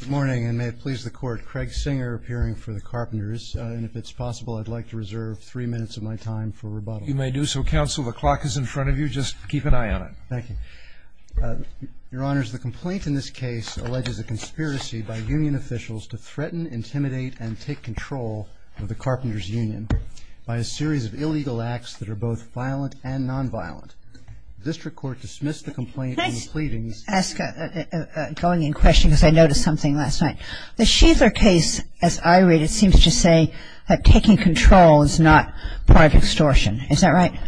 Good morning, and may it please the Court, Craig Singer, appearing for the Carpenters. And if it's possible, I'd like to reserve three minutes of my time for rebuttal. You may do so, Counsel. The clock is in front of you. Just keep an eye on it. Thank you. Your Honors, the complaint in this case alleges a conspiracy by union officials to threaten, intimidate, and take control of the Carpenters Union by a series of illegal acts that are both violent and nonviolent. District Court dismissed the complaint in the pleadings. Can I ask, going in question, because I noticed something last night. The Schieffler case, as I read it, seems to say that taking control is not part of extortion. Is that right?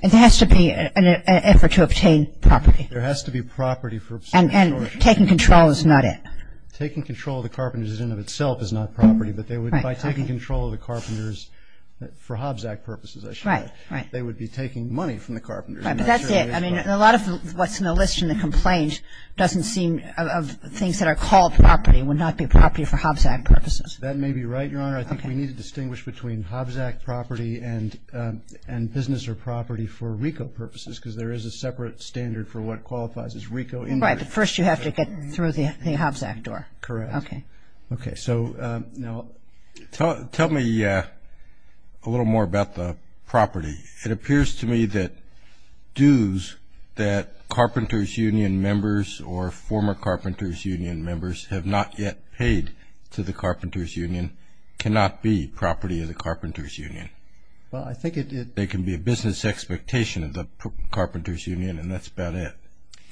It has to be an effort to obtain property. There has to be property for extortion. And taking control is not it. Taking control of the Carpenters in and of itself is not property, but by taking control of the Carpenters for Hobbs Act purposes, I should say. Right, right. They would be taking money from the Carpenters. Right, but that's it. I mean, a lot of what's in the list in the complaint doesn't seem of things that are called property would not be property for Hobbs Act purposes. That may be right, Your Honor. I think we need to distinguish between Hobbs Act property and business or property for RICO purposes because there is a separate standard for what qualifies as RICO. Right, but first you have to get through the Hobbs Act door. Correct. Okay. Okay, so now. Tell me a little more about the property. It appears to me that dues that Carpenters Union members or former Carpenters Union members have not yet paid to the Carpenters Union cannot be property of the Carpenters Union. Well, I think it. They can be a business expectation of the Carpenters Union, and that's about it.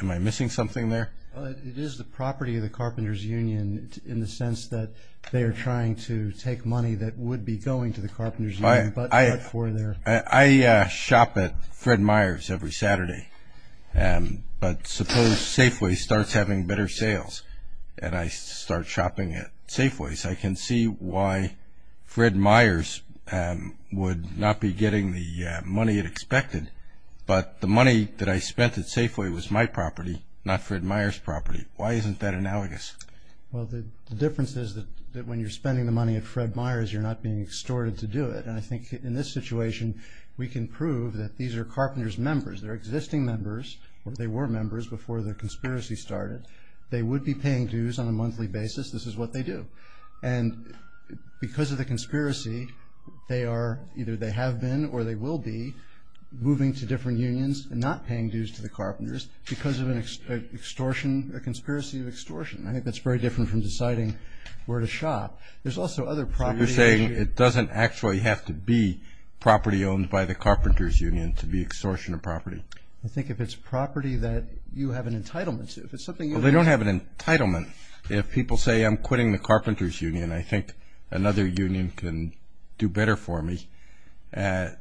Am I missing something there? It is the property of the Carpenters Union in the sense that they are trying to take money that would be going to the Carpenters Union but not for their. I shop at Fred Meyer's every Saturday, but suppose Safeway starts having better sales and I start shopping at Safeway's, I can see why Fred Meyer's would not be getting the money it expected, but the money that I spent at Safeway was my property, not Fred Meyer's property. Why isn't that analogous? Well, the difference is that when you're spending the money at Fred Meyer's, you're not being extorted to do it. And I think in this situation we can prove that these are Carpenters members. They're existing members or they were members before the conspiracy started. They would be paying dues on a monthly basis. This is what they do. And because of the conspiracy, they are either they have been or they will be moving to different unions and not paying dues to the Carpenters because of an extortion, a conspiracy of extortion. I think that's very different from deciding where to shop. There's also other properties. So you're saying it doesn't actually have to be property owned by the Carpenters Union to be extortion of property? I think if it's property that you have an entitlement to. Well, they don't have an entitlement. If people say I'm quitting the Carpenters Union, I think another union can do better for me. There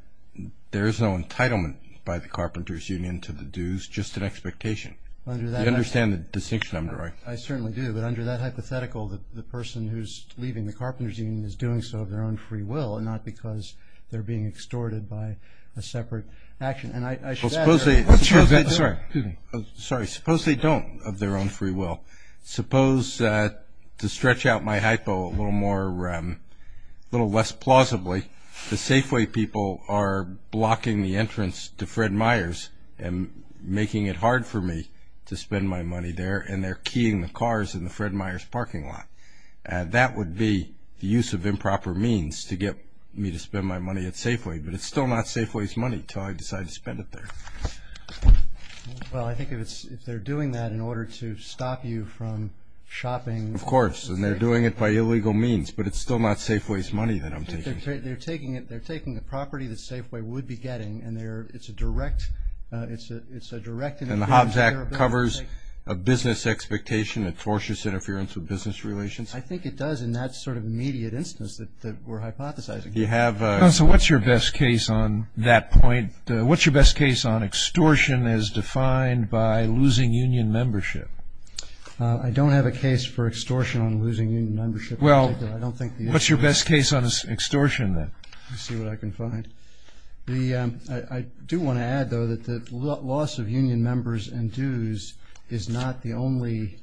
is no entitlement by the Carpenters Union to the dues, just an expectation. Do you understand the distinction I'm drawing? I certainly do, but under that hypothetical, the person who's leaving the Carpenters Union is doing so of their own free will and not because they're being extorted by a separate action. Suppose they don't of their own free will. Suppose to stretch out my hypo a little less plausibly, the Safeway people are blocking the entrance to Fred Meyer's and making it hard for me to spend my money there and they're keying the cars in the Fred Meyer's parking lot. That would be the use of improper means to get me to spend my money at Safeway, but it's still not Safeway's money until I decide to spend it there. Well, I think if they're doing that in order to stop you from shopping. Of course, and they're doing it by illegal means, but it's still not Safeway's money that I'm taking. They're taking the property that Safeway would be getting and it's a direct interference. And the Hobbs Act covers a business expectation, a tortious interference with business relations. I think it does in that sort of immediate instance that we're hypothesizing. So what's your best case on that point? What's your best case on extortion as defined by losing union membership? I don't have a case for extortion on losing union membership. Well, what's your best case on extortion then? Let me see what I can find. I do want to add, though, that the loss of union members and dues is not the only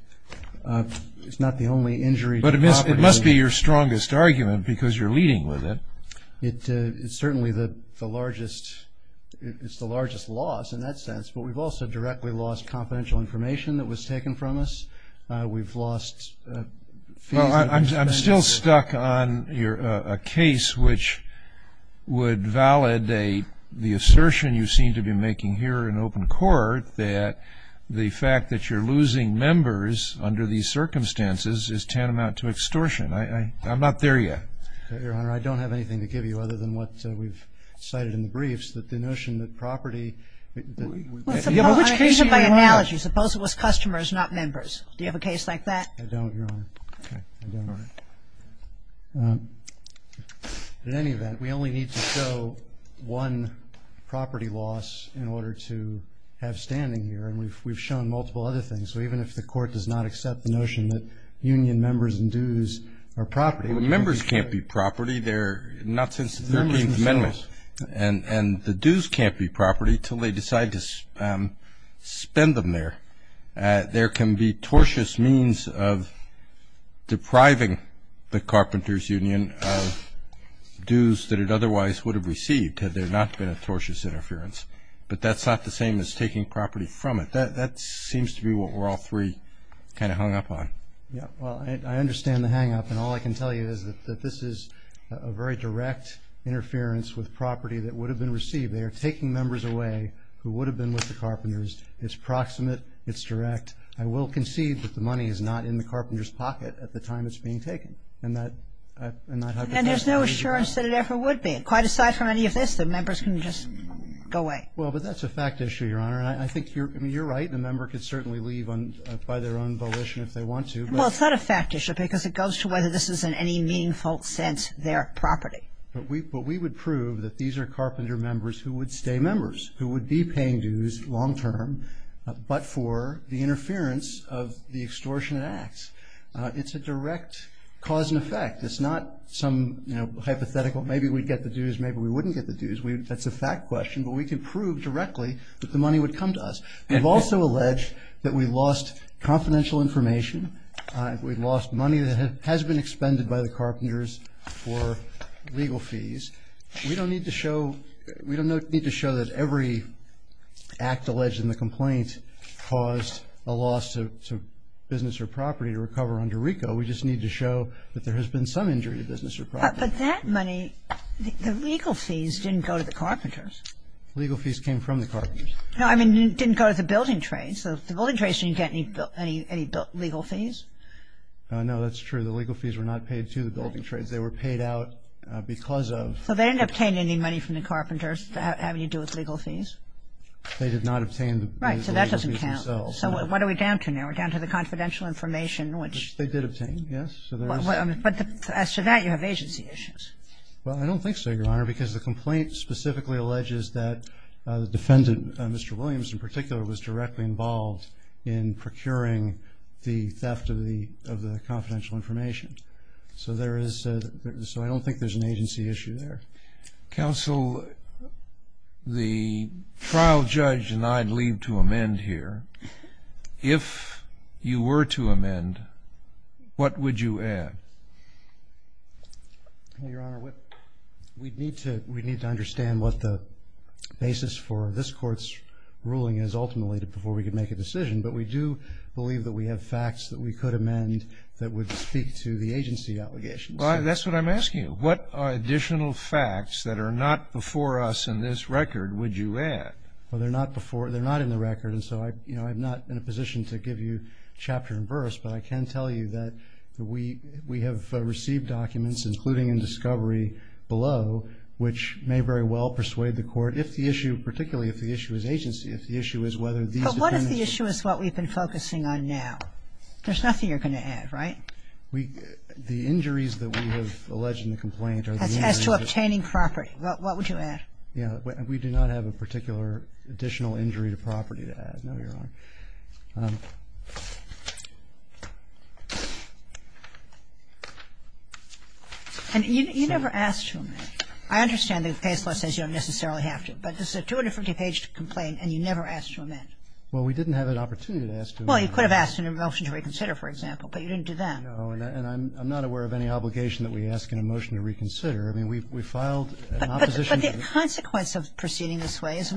injury. But it must be your strongest argument because you're leading with it. It's certainly the largest loss in that sense, but we've also directly lost confidential information that was taken from us. We've lost fees. Well, I'm still stuck on a case which would validate the assertion you seem to be making here in open court that the fact that you're losing members under these circumstances is tantamount to extortion. I'm not there yet. Your Honor, I don't have anything to give you other than what we've cited in the briefs, that the notion that property ---- Well, suppose ---- Which case do you have? Suppose it was customers, not members. Do you have a case like that? I don't, Your Honor. Okay. I don't. All right. In any event, we only need to show one property loss in order to have standing here, and we've shown multiple other things. So even if the Court does not accept the notion that union members and dues are property ---- Members can't be property, not since the 13th Amendment. And the dues can't be property until they decide to spend them there. There can be tortious means of depriving the carpenter's union of dues that it otherwise would have received had there not been a tortious interference. But that's not the same as taking property from it. That seems to be what we're all three kind of hung up on. Yeah. Well, I understand the hang-up, and all I can tell you is that this is a very direct interference with property that would have been received. They are taking members away who would have been with the carpenters. It's proximate. It's direct. I will concede that the money is not in the carpenter's pocket at the time it's being taken. And that ---- And there's no assurance that it ever would be. Quite aside from any of this, the members can just go away. Well, but that's a fact issue, Your Honor. And I think you're right. A member could certainly leave by their own volition if they want to. Well, it's not a fact issue because it goes to whether this is in any meaningful sense their property. But we would prove that these are carpenter members who would stay members, who would be paying dues long-term, but for the interference of the extortionate acts. It's a direct cause and effect. It's not some hypothetical maybe we'd get the dues, maybe we wouldn't get the dues. That's a fact question. But we can prove directly that the money would come to us. We've also alleged that we lost confidential information. We've lost money that has been expended by the carpenters for legal fees. We don't need to show that every act alleged in the complaint caused a loss to business or property to recover under RICO. We just need to show that there has been some injury to business or property. But that money, the legal fees didn't go to the carpenters. Legal fees came from the carpenters. I mean, it didn't go to the building trades. The building trades didn't get any legal fees. No, that's true. The legal fees were not paid to the building trades. They were paid out because of. So they didn't obtain any money from the carpenters having to do with legal fees? They did not obtain the legal fees themselves. Right, so that doesn't count. So what are we down to now? We're down to the confidential information, which. They did obtain, yes. But as to that, you have agency issues. Well, I don't think so, Your Honor, because the complaint specifically alleges that the defendant, Mr. Williams in particular, was directly involved in procuring the theft of the confidential information. So I don't think there's an agency issue there. Counsel, the trial judge and I'd leave to amend here. If you were to amend, what would you add? Well, Your Honor, we'd need to understand what the basis for this court's ruling is ultimately before we could make a decision. But we do believe that we have facts that we could amend that would speak to the agency allegations. Well, that's what I'm asking you. What additional facts that are not before us in this record would you add? Well, they're not before you. They're not in the record. And so, you know, I'm not in a position to give you chapter and verse. But I can tell you that we have received documents, including in discovery below, which may very well persuade the Court if the issue, particularly if the issue is agency, if the issue is whether these determinants are true. But what if the issue is what we've been focusing on now? There's nothing you're going to add, right? We – the injuries that we have alleged in the complaint are the injuries that we have alleged. As to obtaining property. What would you add? Yeah. We do not have a particular additional injury to property to add. No, Your Honor. And you never asked to amend. I understand that the case law says you don't necessarily have to. But this is a 250-page complaint and you never asked to amend. Well, we didn't have an opportunity to ask to amend. Well, you could have asked in a motion to reconsider, for example. But you didn't do that. No. And I'm not aware of any obligation that we ask in a motion to reconsider. I mean, we filed an opposition to it. But the consequence of proceeding this way is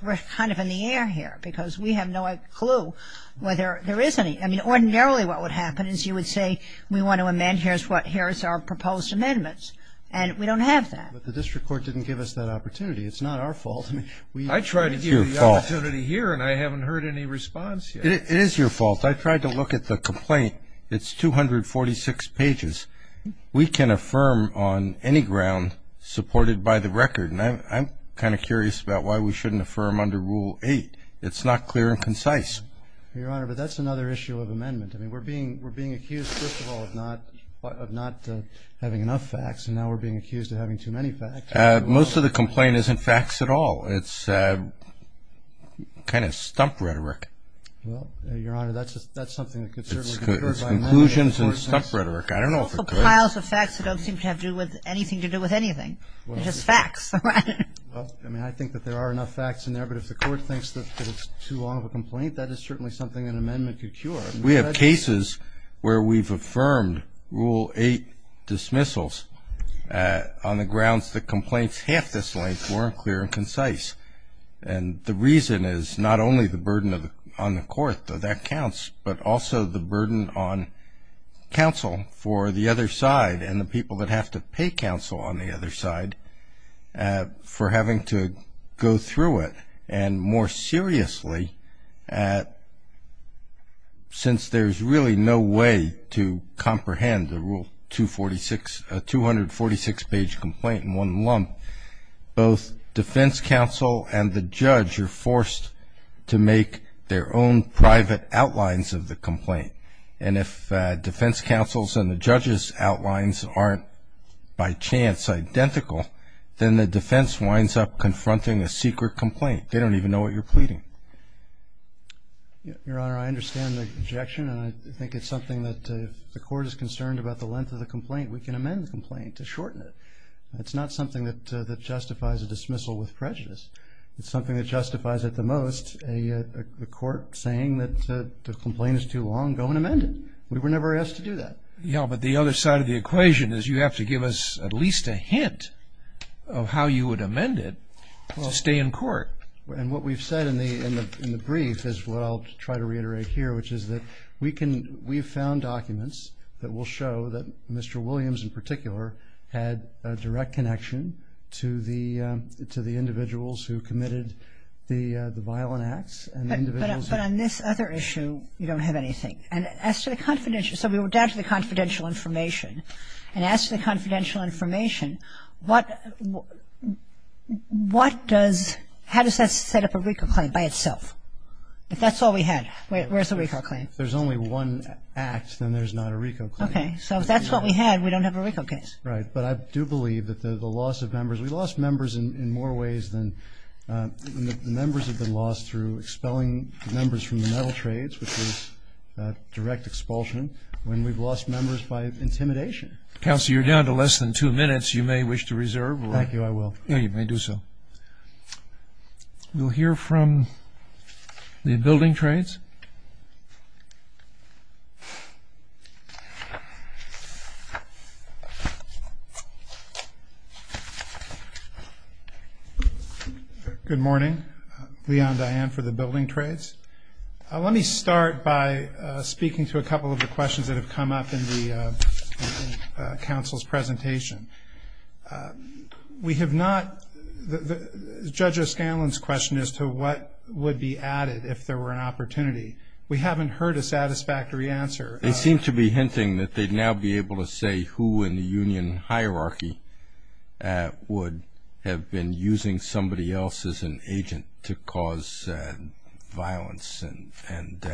we're kind of in the air here because we have no clue whether there is any. I mean, ordinarily what would happen is you would say we want to amend. Here's what – here's our proposed amendments. And we don't have that. But the district court didn't give us that opportunity. It's not our fault. I tried to give you the opportunity here and I haven't heard any response yet. It is your fault. I tried to look at the complaint. It's 246 pages. We can affirm on any ground supported by the record. And I'm kind of curious about why we shouldn't affirm under Rule 8. It's not clear and concise. Your Honor, but that's another issue of amendment. I mean, we're being accused, first of all, of not having enough facts. And now we're being accused of having too many facts. Most of the complaint isn't facts at all. It's kind of stump rhetoric. Well, Your Honor, that's something that could certainly be cured by amendment. It's conclusions and stump rhetoric. I don't know if it could. It's piles of facts that don't seem to have anything to do with anything. It's just facts. Well, I mean, I think that there are enough facts in there. But if the court thinks that it's too long of a complaint, that is certainly something an amendment could cure. We have cases where we've affirmed Rule 8 dismissals on the grounds that complaints half this length weren't clear and concise. And the reason is not only the burden on the court, though that counts, but also the burden on counsel for the other side and the people that have to pay counsel on the other side for having to go through it, and more seriously, since there's really no way to comprehend the Rule 246, a 246-page complaint in one lump, both defense counsel and the judge are forced to make their own private outlines of the complaint. And if defense counsel's and the judge's outlines aren't by chance identical, then the defense winds up confronting a secret complaint. They don't even know what you're pleading. Your Honor, I understand the objection, and I think it's something that if the court is concerned about the length of the complaint, we can amend the complaint to shorten it. It's not something that justifies a dismissal with prejudice. It's something that justifies, at the most, a court saying that the complaint is too long, go and amend it. We were never asked to do that. Yeah, but the other side of the equation is you have to give us at least a description of how you would amend it to stay in court. And what we've said in the brief is what I'll try to reiterate here, which is that we've found documents that will show that Mr. Williams, in particular, had a direct connection to the individuals who committed the violent acts. But on this other issue, you don't have anything. And as to the confidential – so we went down to the confidential information and asked for the confidential information. What does – how does that set up a RICO claim by itself? If that's all we had, where's the RICO claim? If there's only one act, then there's not a RICO claim. Okay. So if that's what we had, we don't have a RICO case. Right. But I do believe that the loss of members – we lost members in more ways than – members have been lost through expelling members from the metal trades, which is direct expulsion. When we've lost members by intimidation. Counselor, you're down to less than two minutes. You may wish to reserve. Thank you. I will. Yeah, you may do so. We'll hear from the building trades. Good morning. Leon Diane for the building trades. Let me start by speaking to a couple of the questions that have come up in the council's presentation. We have not – Judge O'Scanlan's question as to what would be added if there were an opportunity, we haven't heard a satisfactory answer. They seem to be hinting that they'd now be able to say who in the union hierarchy would have been using somebody else as an agent to cause violence and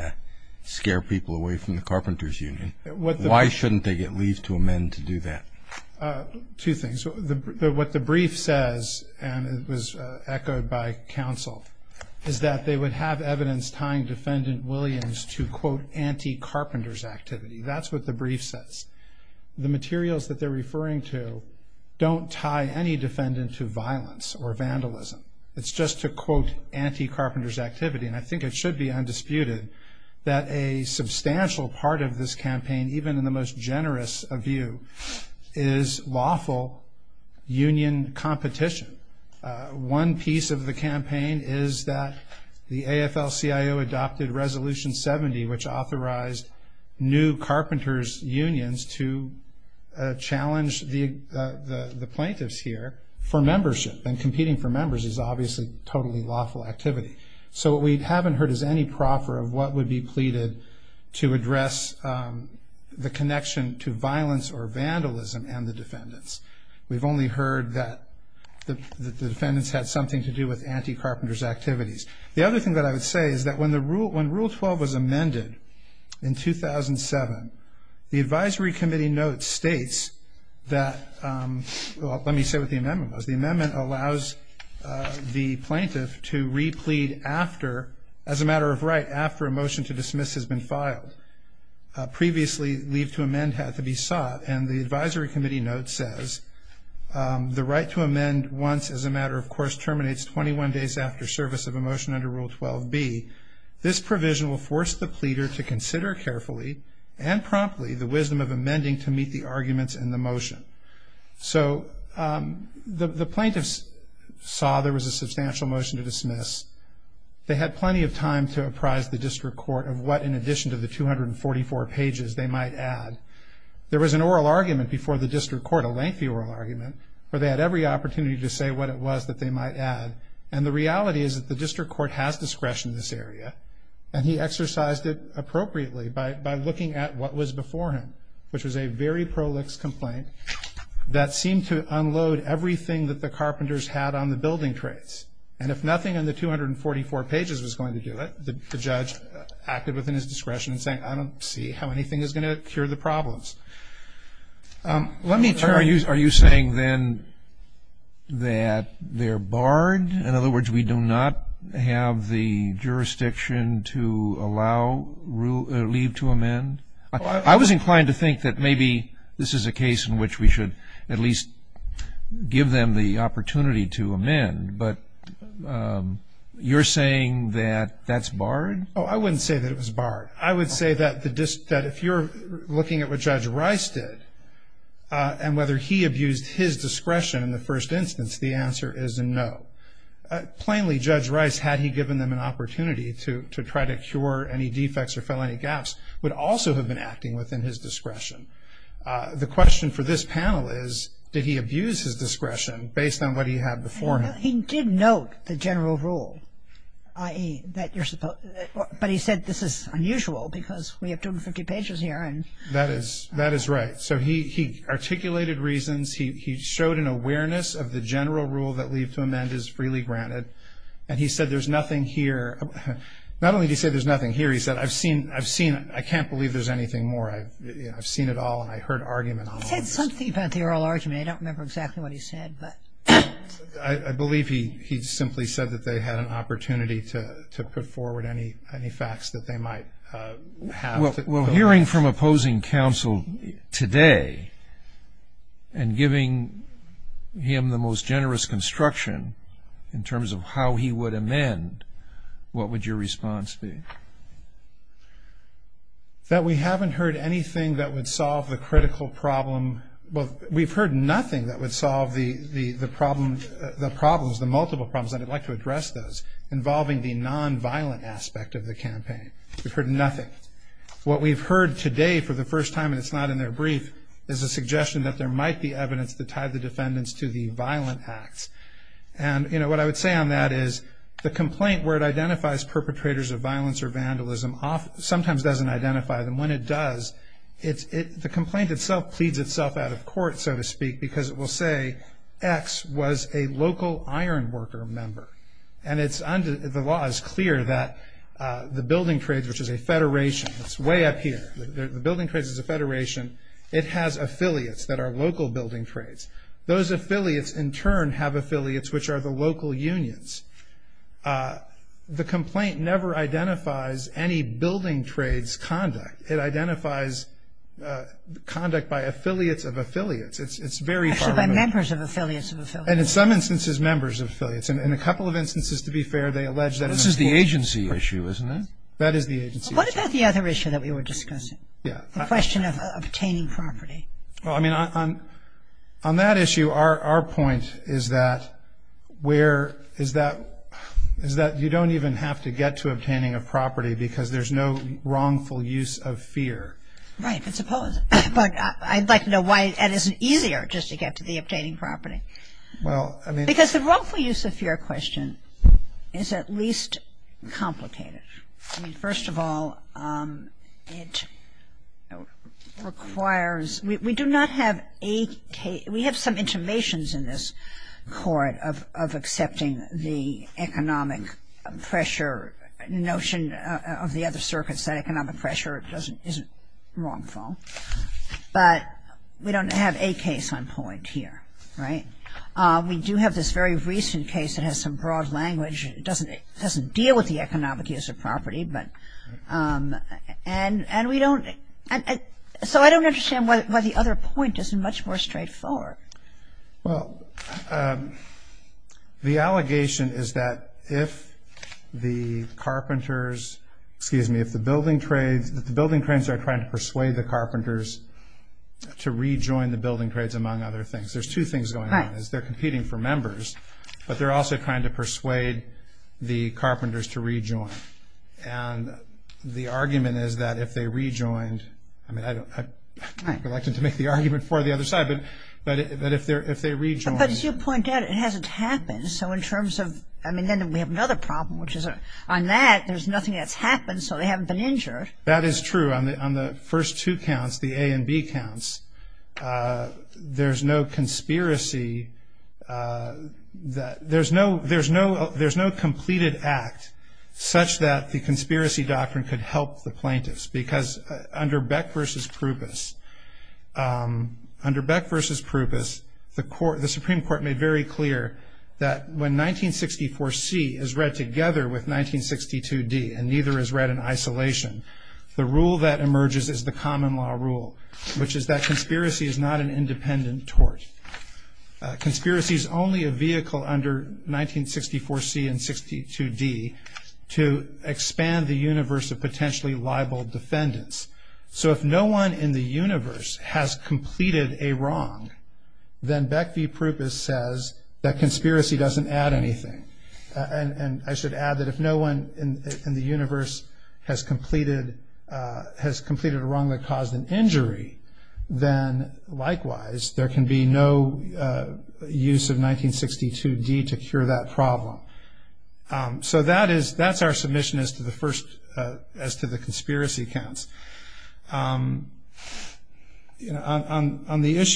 scare people away from the carpenter's union. Why shouldn't they get leave to amend to do that? Two things. What the brief says, and it was echoed by counsel, is that they would have evidence tying Defendant Williams to, quote, anti-carpenter's activity. That's what the brief says. The materials that they're referring to don't tie any defendant to violence or vandalism. It's just to, quote, anti-carpenter's activity. And I think it should be undisputed that a substantial part of this campaign, even in the most generous of view, is lawful union competition. One piece of the campaign is that the AFL-CIO adopted Resolution 70, which authorized new carpenters' unions to challenge the plaintiffs here for membership. And competing for members is obviously totally lawful activity. So what we haven't heard is any proffer of what would be pleaded to address the connection to violence or vandalism and the defendants. We've only heard that the defendants had something to do with anti-carpenter's activities. The other thing that I would say is that when Rule 12 was amended in 2007, the Advisory Committee notes states that the amendment allows the plaintiff to re-plead as a matter of right after a motion to dismiss has been filed. Previously, leave to amend had to be sought. And the Advisory Committee note says the right to amend once as a matter of right after service of a motion under Rule 12B. This provision will force the pleader to consider carefully and promptly the wisdom of amending to meet the arguments in the motion. So the plaintiffs saw there was a substantial motion to dismiss. They had plenty of time to apprise the district court of what, in addition to the 244 pages they might add. There was an oral argument before the district court, a lengthy oral argument, where they had every opportunity to say what it was that they might add. And the reality is that the district court has discretion in this area, and he exercised it appropriately by looking at what was before him, which was a very prolix complaint that seemed to unload everything that the carpenters had on the building traits. And if nothing in the 244 pages was going to do it, the judge acted within his discretion in saying, I don't see how anything is going to cure the problems. Are you saying then that they're barred? In other words, we do not have the jurisdiction to allow leave to amend? I was inclined to think that maybe this is a case in which we should at least give them the opportunity to amend, but you're saying that that's barred? Oh, I wouldn't say that it was barred. I would say that if you're looking at what Judge Rice did and whether he abused his discretion in the first instance, the answer is no. Plainly, Judge Rice, had he given them an opportunity to try to cure any defects or fill any gaps, would also have been acting within his discretion. The question for this panel is, did he abuse his discretion based on what he had before him? He did note the general rule, i.e., that you're supposed to. But he said this is unusual because we have 250 pages here. That is right. So he articulated reasons. He showed an awareness of the general rule that leave to amend is freely granted. And he said there's nothing here. Not only did he say there's nothing here. He said, I've seen it. I can't believe there's anything more. I've seen it all and I heard arguments. He said something about the oral argument. I don't remember exactly what he said. I believe he simply said that they had an opportunity to put forward any facts that they might have. Well, hearing from opposing counsel today and giving him the most generous construction in terms of how he would amend, what would your response be? That we haven't heard anything that would solve the critical problem. We've heard nothing that would solve the problems, the multiple problems, I'd like to address those, involving the nonviolent aspect of the campaign. We've heard nothing. What we've heard today for the first time, and it's not in their brief, is a suggestion that there might be evidence to tie the defendants to the violent acts. And what I would say on that is the complaint, where it identifies perpetrators of violence or vandalism, sometimes doesn't identify them. And when it does, the complaint itself pleads itself out of court, so to speak, because it will say X was a local iron worker member. And the law is clear that the building trades, which is a federation, it's way up here, the building trades is a federation, it has affiliates that are local building trades. Those affiliates in turn have affiliates which are the local unions. The complaint never identifies any building trades conduct. It identifies conduct by affiliates of affiliates. It's very far removed. Actually, by members of affiliates of affiliates. And in some instances, members of affiliates. And in a couple of instances, to be fair, they allege that. This is the agency issue, isn't it? That is the agency issue. What about the other issue that we were discussing? Yeah. The question of obtaining property. Well, I mean, on that issue, our point is that where – is that you don't even have to get to obtaining a property because there's no wrongful use of fear. Right. But suppose – but I'd like to know why it isn't easier just to get to the obtaining property. Well, I mean – Because the wrongful use of fear question is at least complicated. I mean, first of all, it requires – we do not have a – of the other circuits that economic pressure isn't wrongful. But we don't have a case on point here. Right? We do have this very recent case that has some broad language. It doesn't deal with the economic use of property, but – and we don't – so I don't understand why the other point isn't much more straightforward. Well, the allegation is that if the carpenters – excuse me, if the building trades – that the building trades are trying to persuade the carpenters to rejoin the building trades, among other things. There's two things going on. Right. They're competing for members, but they're also trying to persuade the carpenters to rejoin. And the argument is that if they rejoined – I mean, I don't – I'd like to make the argument for the other side, but if they rejoined – But as you point out, it hasn't happened. So in terms of – I mean, then we have another problem, which is on that, there's nothing that's happened, so they haven't been injured. That is true. On the first two counts, the A and B counts, there's no conspiracy that – there's no completed act such that the conspiracy doctrine could help the plaintiffs. Because under Beck v. Proupos, under Beck v. Proupos, the Supreme Court made very clear that when 1964C is read together with 1962D and neither is read in isolation, the rule that emerges is the common law rule, which is that conspiracy is not an independent tort. Conspiracy is only a vehicle under 1964C and 62D to expand the universe of potentially liable defendants. So if no one in the universe has completed a wrong, then Beck v. Proupos says that conspiracy doesn't add anything. And I should add that if no one in the universe has completed a wrong that caused an injury, then likewise there can be no use of 1962D to cure that problem. So that's our submission as to the conspiracy counts. On the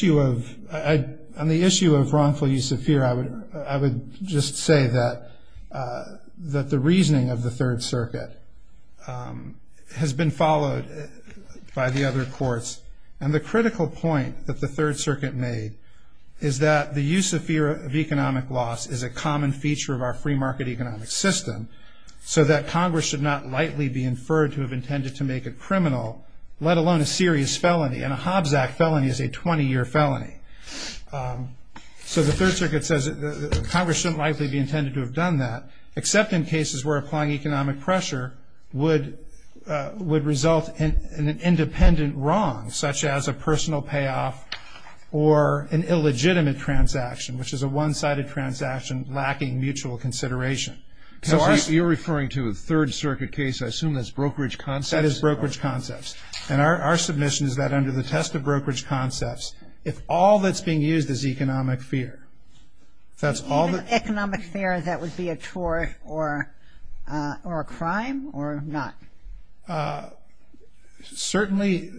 issue of wrongful use of fear, I would just say that the reasoning of the Third Circuit has been followed by the other courts. And the critical point that the Third Circuit made is that the use of fear of economic loss is a common feature of our free market economic system so that Congress should not likely be inferred to have intended to make a criminal, let alone a serious felony. And a Hobbs Act felony is a 20-year felony. So the Third Circuit says that Congress shouldn't likely be intended to have done that, except in cases where applying economic pressure would result in an independent wrong, such as a personal payoff or an illegitimate transaction, which is a one-sided transaction lacking mutual consideration. So you're referring to a Third Circuit case. I assume that's brokerage concepts. That is brokerage concepts. And our submission is that under the test of brokerage concepts, if all that's being used is economic fear, if that's all that's being used. Economic fear, that would be a tort or a crime or not? Certainly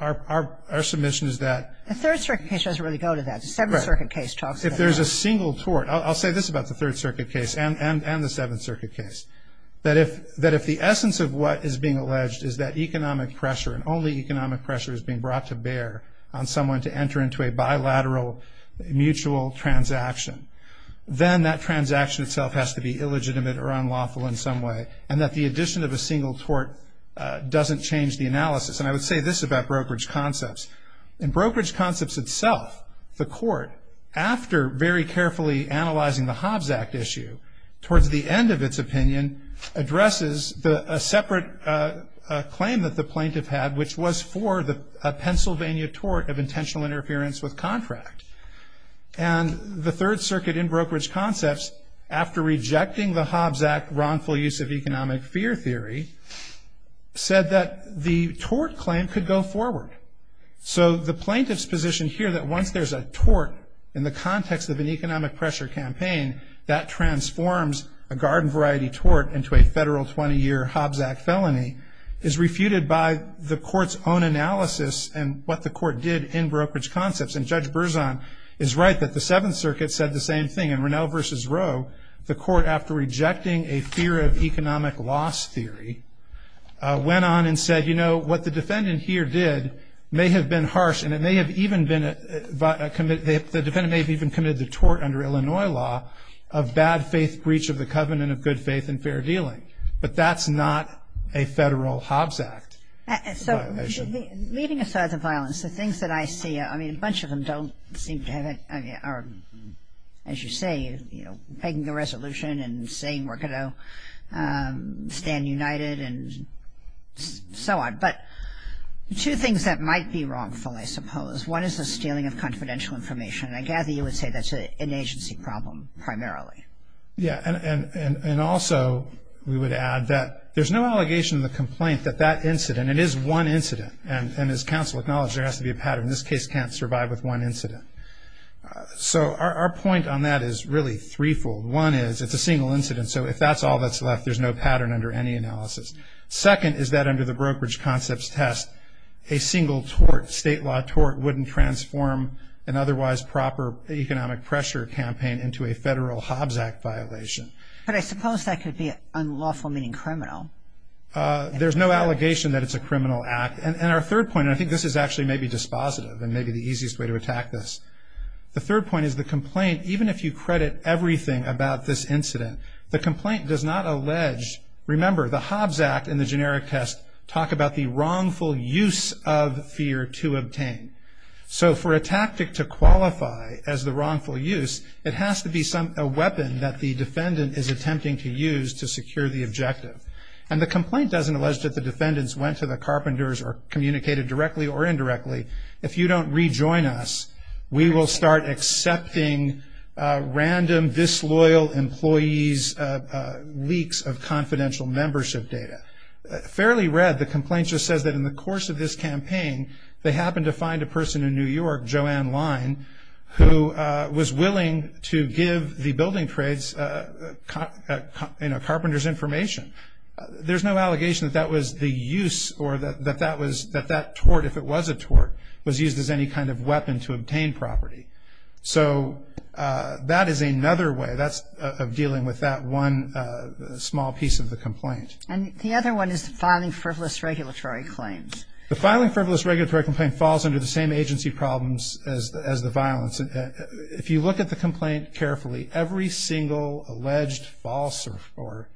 our submission is that. A Third Circuit case doesn't really go to that. A Seventh Circuit case talks about that. If there's a single tort, I'll say this about the Third Circuit case and the Seventh Circuit case, that if the essence of what is being alleged is that economic pressure and only economic pressure is being brought to bear on someone to enter into a bilateral, mutual transaction, then that transaction itself has to be illegitimate or unlawful in some way, and that the addition of a single tort doesn't change the analysis. And I would say this about brokerage concepts. In brokerage concepts itself, the court, after very carefully analyzing the Hobbs Act issue, towards the end of its opinion, addresses a separate claim that the plaintiff had, which was for a Pennsylvania tort of intentional interference with contract. And the Third Circuit in brokerage concepts, after rejecting the Hobbs Act wrongful use of economic fear theory, said that the tort claim could go forward. So the plaintiff's position here that once there's a tort in the context of an economic pressure campaign, that transforms a garden variety tort into a federal 20-year Hobbs Act felony, is refuted by the court's own analysis and what the court did in brokerage concepts. And Judge Berzon is right that the Seventh Circuit said the same thing. In Ronell v. Roe, the court, after rejecting a fear of economic loss theory, went on and said, you know, what the defendant here did may have been harsh, and the defendant may have even committed the tort under Illinois law of bad faith breach of the covenant of good faith and fair dealing. But that's not a federal Hobbs Act violation. Leaving aside the violence, the things that I see, I mean, a bunch of them don't seem to have any, as you say, you know, making a resolution and saying we're going to stand united and so on. But two things that might be wrongful, I suppose. One is the stealing of confidential information, and I gather you would say that's an agency problem primarily. Yeah, and also we would add that there's no allegation in the complaint that that incident, and it is one incident, and as counsel acknowledged, there has to be a pattern. This case can't survive with one incident. So our point on that is really threefold. One is it's a single incident, so if that's all that's left, there's no pattern under any analysis. Second is that under the brokerage concepts test, a single tort, state law tort, wouldn't transform an otherwise proper economic pressure campaign into a federal Hobbs Act violation. But I suppose that could be unlawful, meaning criminal. There's no allegation that it's a criminal act. And our third point, and I think this is actually maybe dispositive and maybe the easiest way to attack this. The third point is the complaint, even if you credit everything about this incident, the complaint does not allege. Remember, the Hobbs Act and the generic test talk about the wrongful use of fear to obtain. So for a tactic to qualify as the wrongful use, it has to be a weapon that the defendant is attempting to use to secure the objective. And the complaint doesn't allege that the defendants went to the carpenters or communicated directly or indirectly. If you don't rejoin us, we will start accepting random, disloyal employees' leaks of confidential membership data. Fairly read, the complaint just says that in the course of this campaign, they happened to find a person in New York, Joanne Lyne, who was willing to give the building trades carpenters' information. There's no allegation that that was the use or that that tort, if it was a tort, was used as any kind of weapon to obtain property. So that is another way of dealing with that one small piece of the complaint. And the other one is the filing frivolous regulatory claims. The filing frivolous regulatory complaint falls under the same agency problems as the violence. If you look at the complaint carefully, every single alleged false or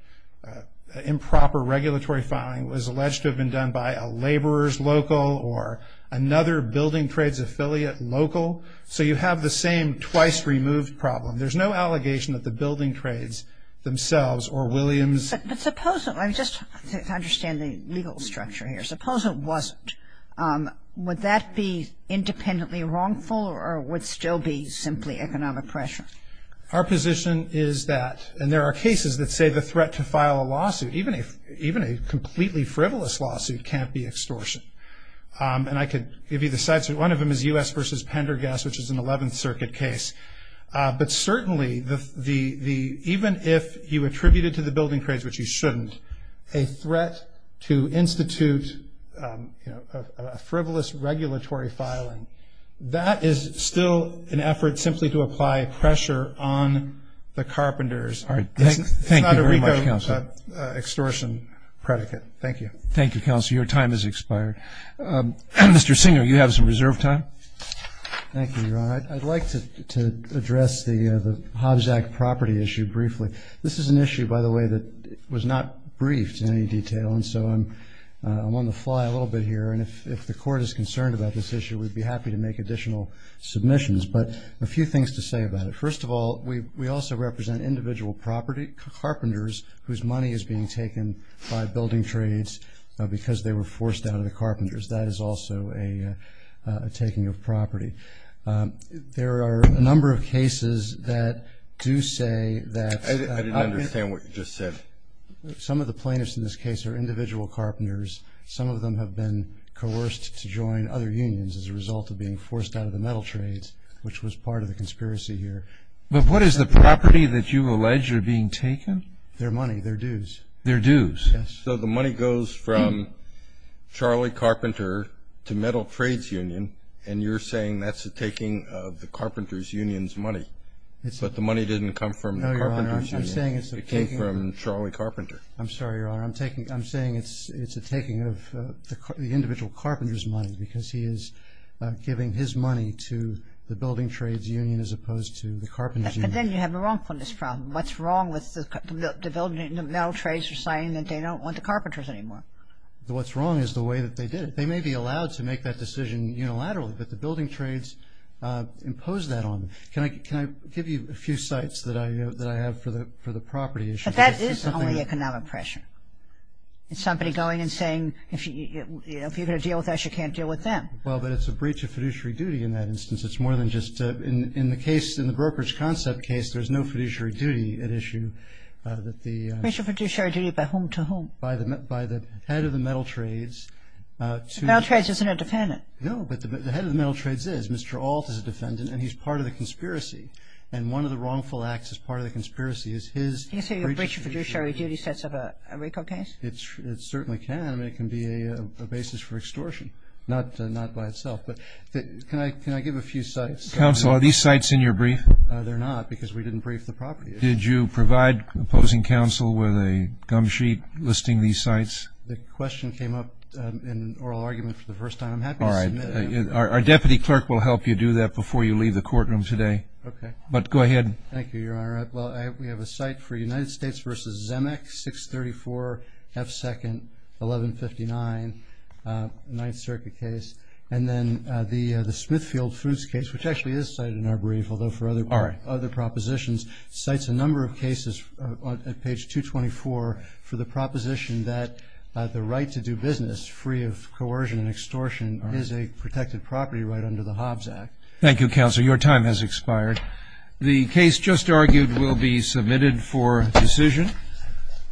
improper regulatory filing was alleged to have been done by a laborer's local or another building trades affiliate local. So you have the same twice-removed problem. There's no allegation that the building trades themselves or Williams. But suppose, just to understand the legal structure here, suppose it wasn't, would that be independently wrongful or would still be simply economic pressure? Our position is that, and there are cases that say the threat to file a lawsuit, even a completely frivolous lawsuit, can't be extortion. And I could give you the sites. One of them is U.S. v. Pendergast, which is an 11th Circuit case. But certainly, even if you attributed to the building trades, which you shouldn't, a threat to institute a frivolous regulatory filing, that is still an effort simply to apply pressure on the carpenters. All right. Thank you very much, Counselor. It's not a recall extortion predicate. Thank you. Thank you, Counselor. Your time has expired. Mr. Singer, you have some reserve time. Thank you, Ron. I'd like to address the Hobbs Act property issue briefly. This is an issue, by the way, that was not briefed in any detail, and so I'm on the fly a little bit here. And if the Court is concerned about this issue, we'd be happy to make additional submissions. But a few things to say about it. First of all, we also represent individual property carpenters whose money is being taken by building trades because they were forced out of the carpenters. That is also a taking of property. There are a number of cases that do say that – I didn't understand what you just said. Some of the plaintiffs in this case are individual carpenters. Some of them have been coerced to join other unions as a result of being forced out of the metal trades, which was part of the conspiracy here. But what is the property that you allege are being taken? Their money, their dues. Their dues. Yes. So the money goes from Charlie Carpenter to Metal Trades Union, and you're saying that's a taking of the carpenters' union's money. But the money didn't come from the carpenters' union. No, Your Honor. It came from Charlie Carpenter. I'm sorry, Your Honor. I'm saying it's a taking of the individual carpenters' money because he is giving his money to the building trades union as opposed to the carpenters' union. But then you have a wrongfulness problem. What's wrong with the building – the metal trades are saying that they don't want the carpenters anymore. What's wrong is the way that they did it. They may be allowed to make that decision unilaterally, but the building trades impose that on them. Can I give you a few sites that I have for the property issue? But that is only economic pressure. It's somebody going and saying, if you're going to deal with us, you can't deal with them. Well, but it's a breach of fiduciary duty in that instance. It's more than just – in the case, in the brokerage concept case, there's no fiduciary duty at issue that the – Breach of fiduciary duty by whom to whom? By the head of the metal trades. The metal trades isn't a defendant. No, but the head of the metal trades is. Mr. Ault is a defendant, and he's part of the conspiracy. And one of the wrongful acts as part of the conspiracy is his breach of fiduciary duty. Can you say a breach of fiduciary duty sets up a RICO case? It certainly can, and it can be a basis for extortion, not by itself. But can I give a few sites? Counsel, are these sites in your brief? They're not because we didn't brief the property issue. Did you provide opposing counsel with a gum sheet listing these sites? The question came up in oral argument for the first time. I'm happy to submit it. All right. Our deputy clerk will help you do that before you leave the courtroom today. Okay. But go ahead. Thank you, Your Honor. Well, we have a site for United States v. Zemeck, 634 F. 2nd, 1159, 9th Circuit case. And then the Smithfield Fruits case, which actually is cited in our brief, although for other propositions, cites a number of cases at page 224 for the proposition that the right to do business free of coercion and extortion is a protected property right under the Hobbs Act. Thank you, Counsel. Your time has expired. The case just argued will be submitted for decision.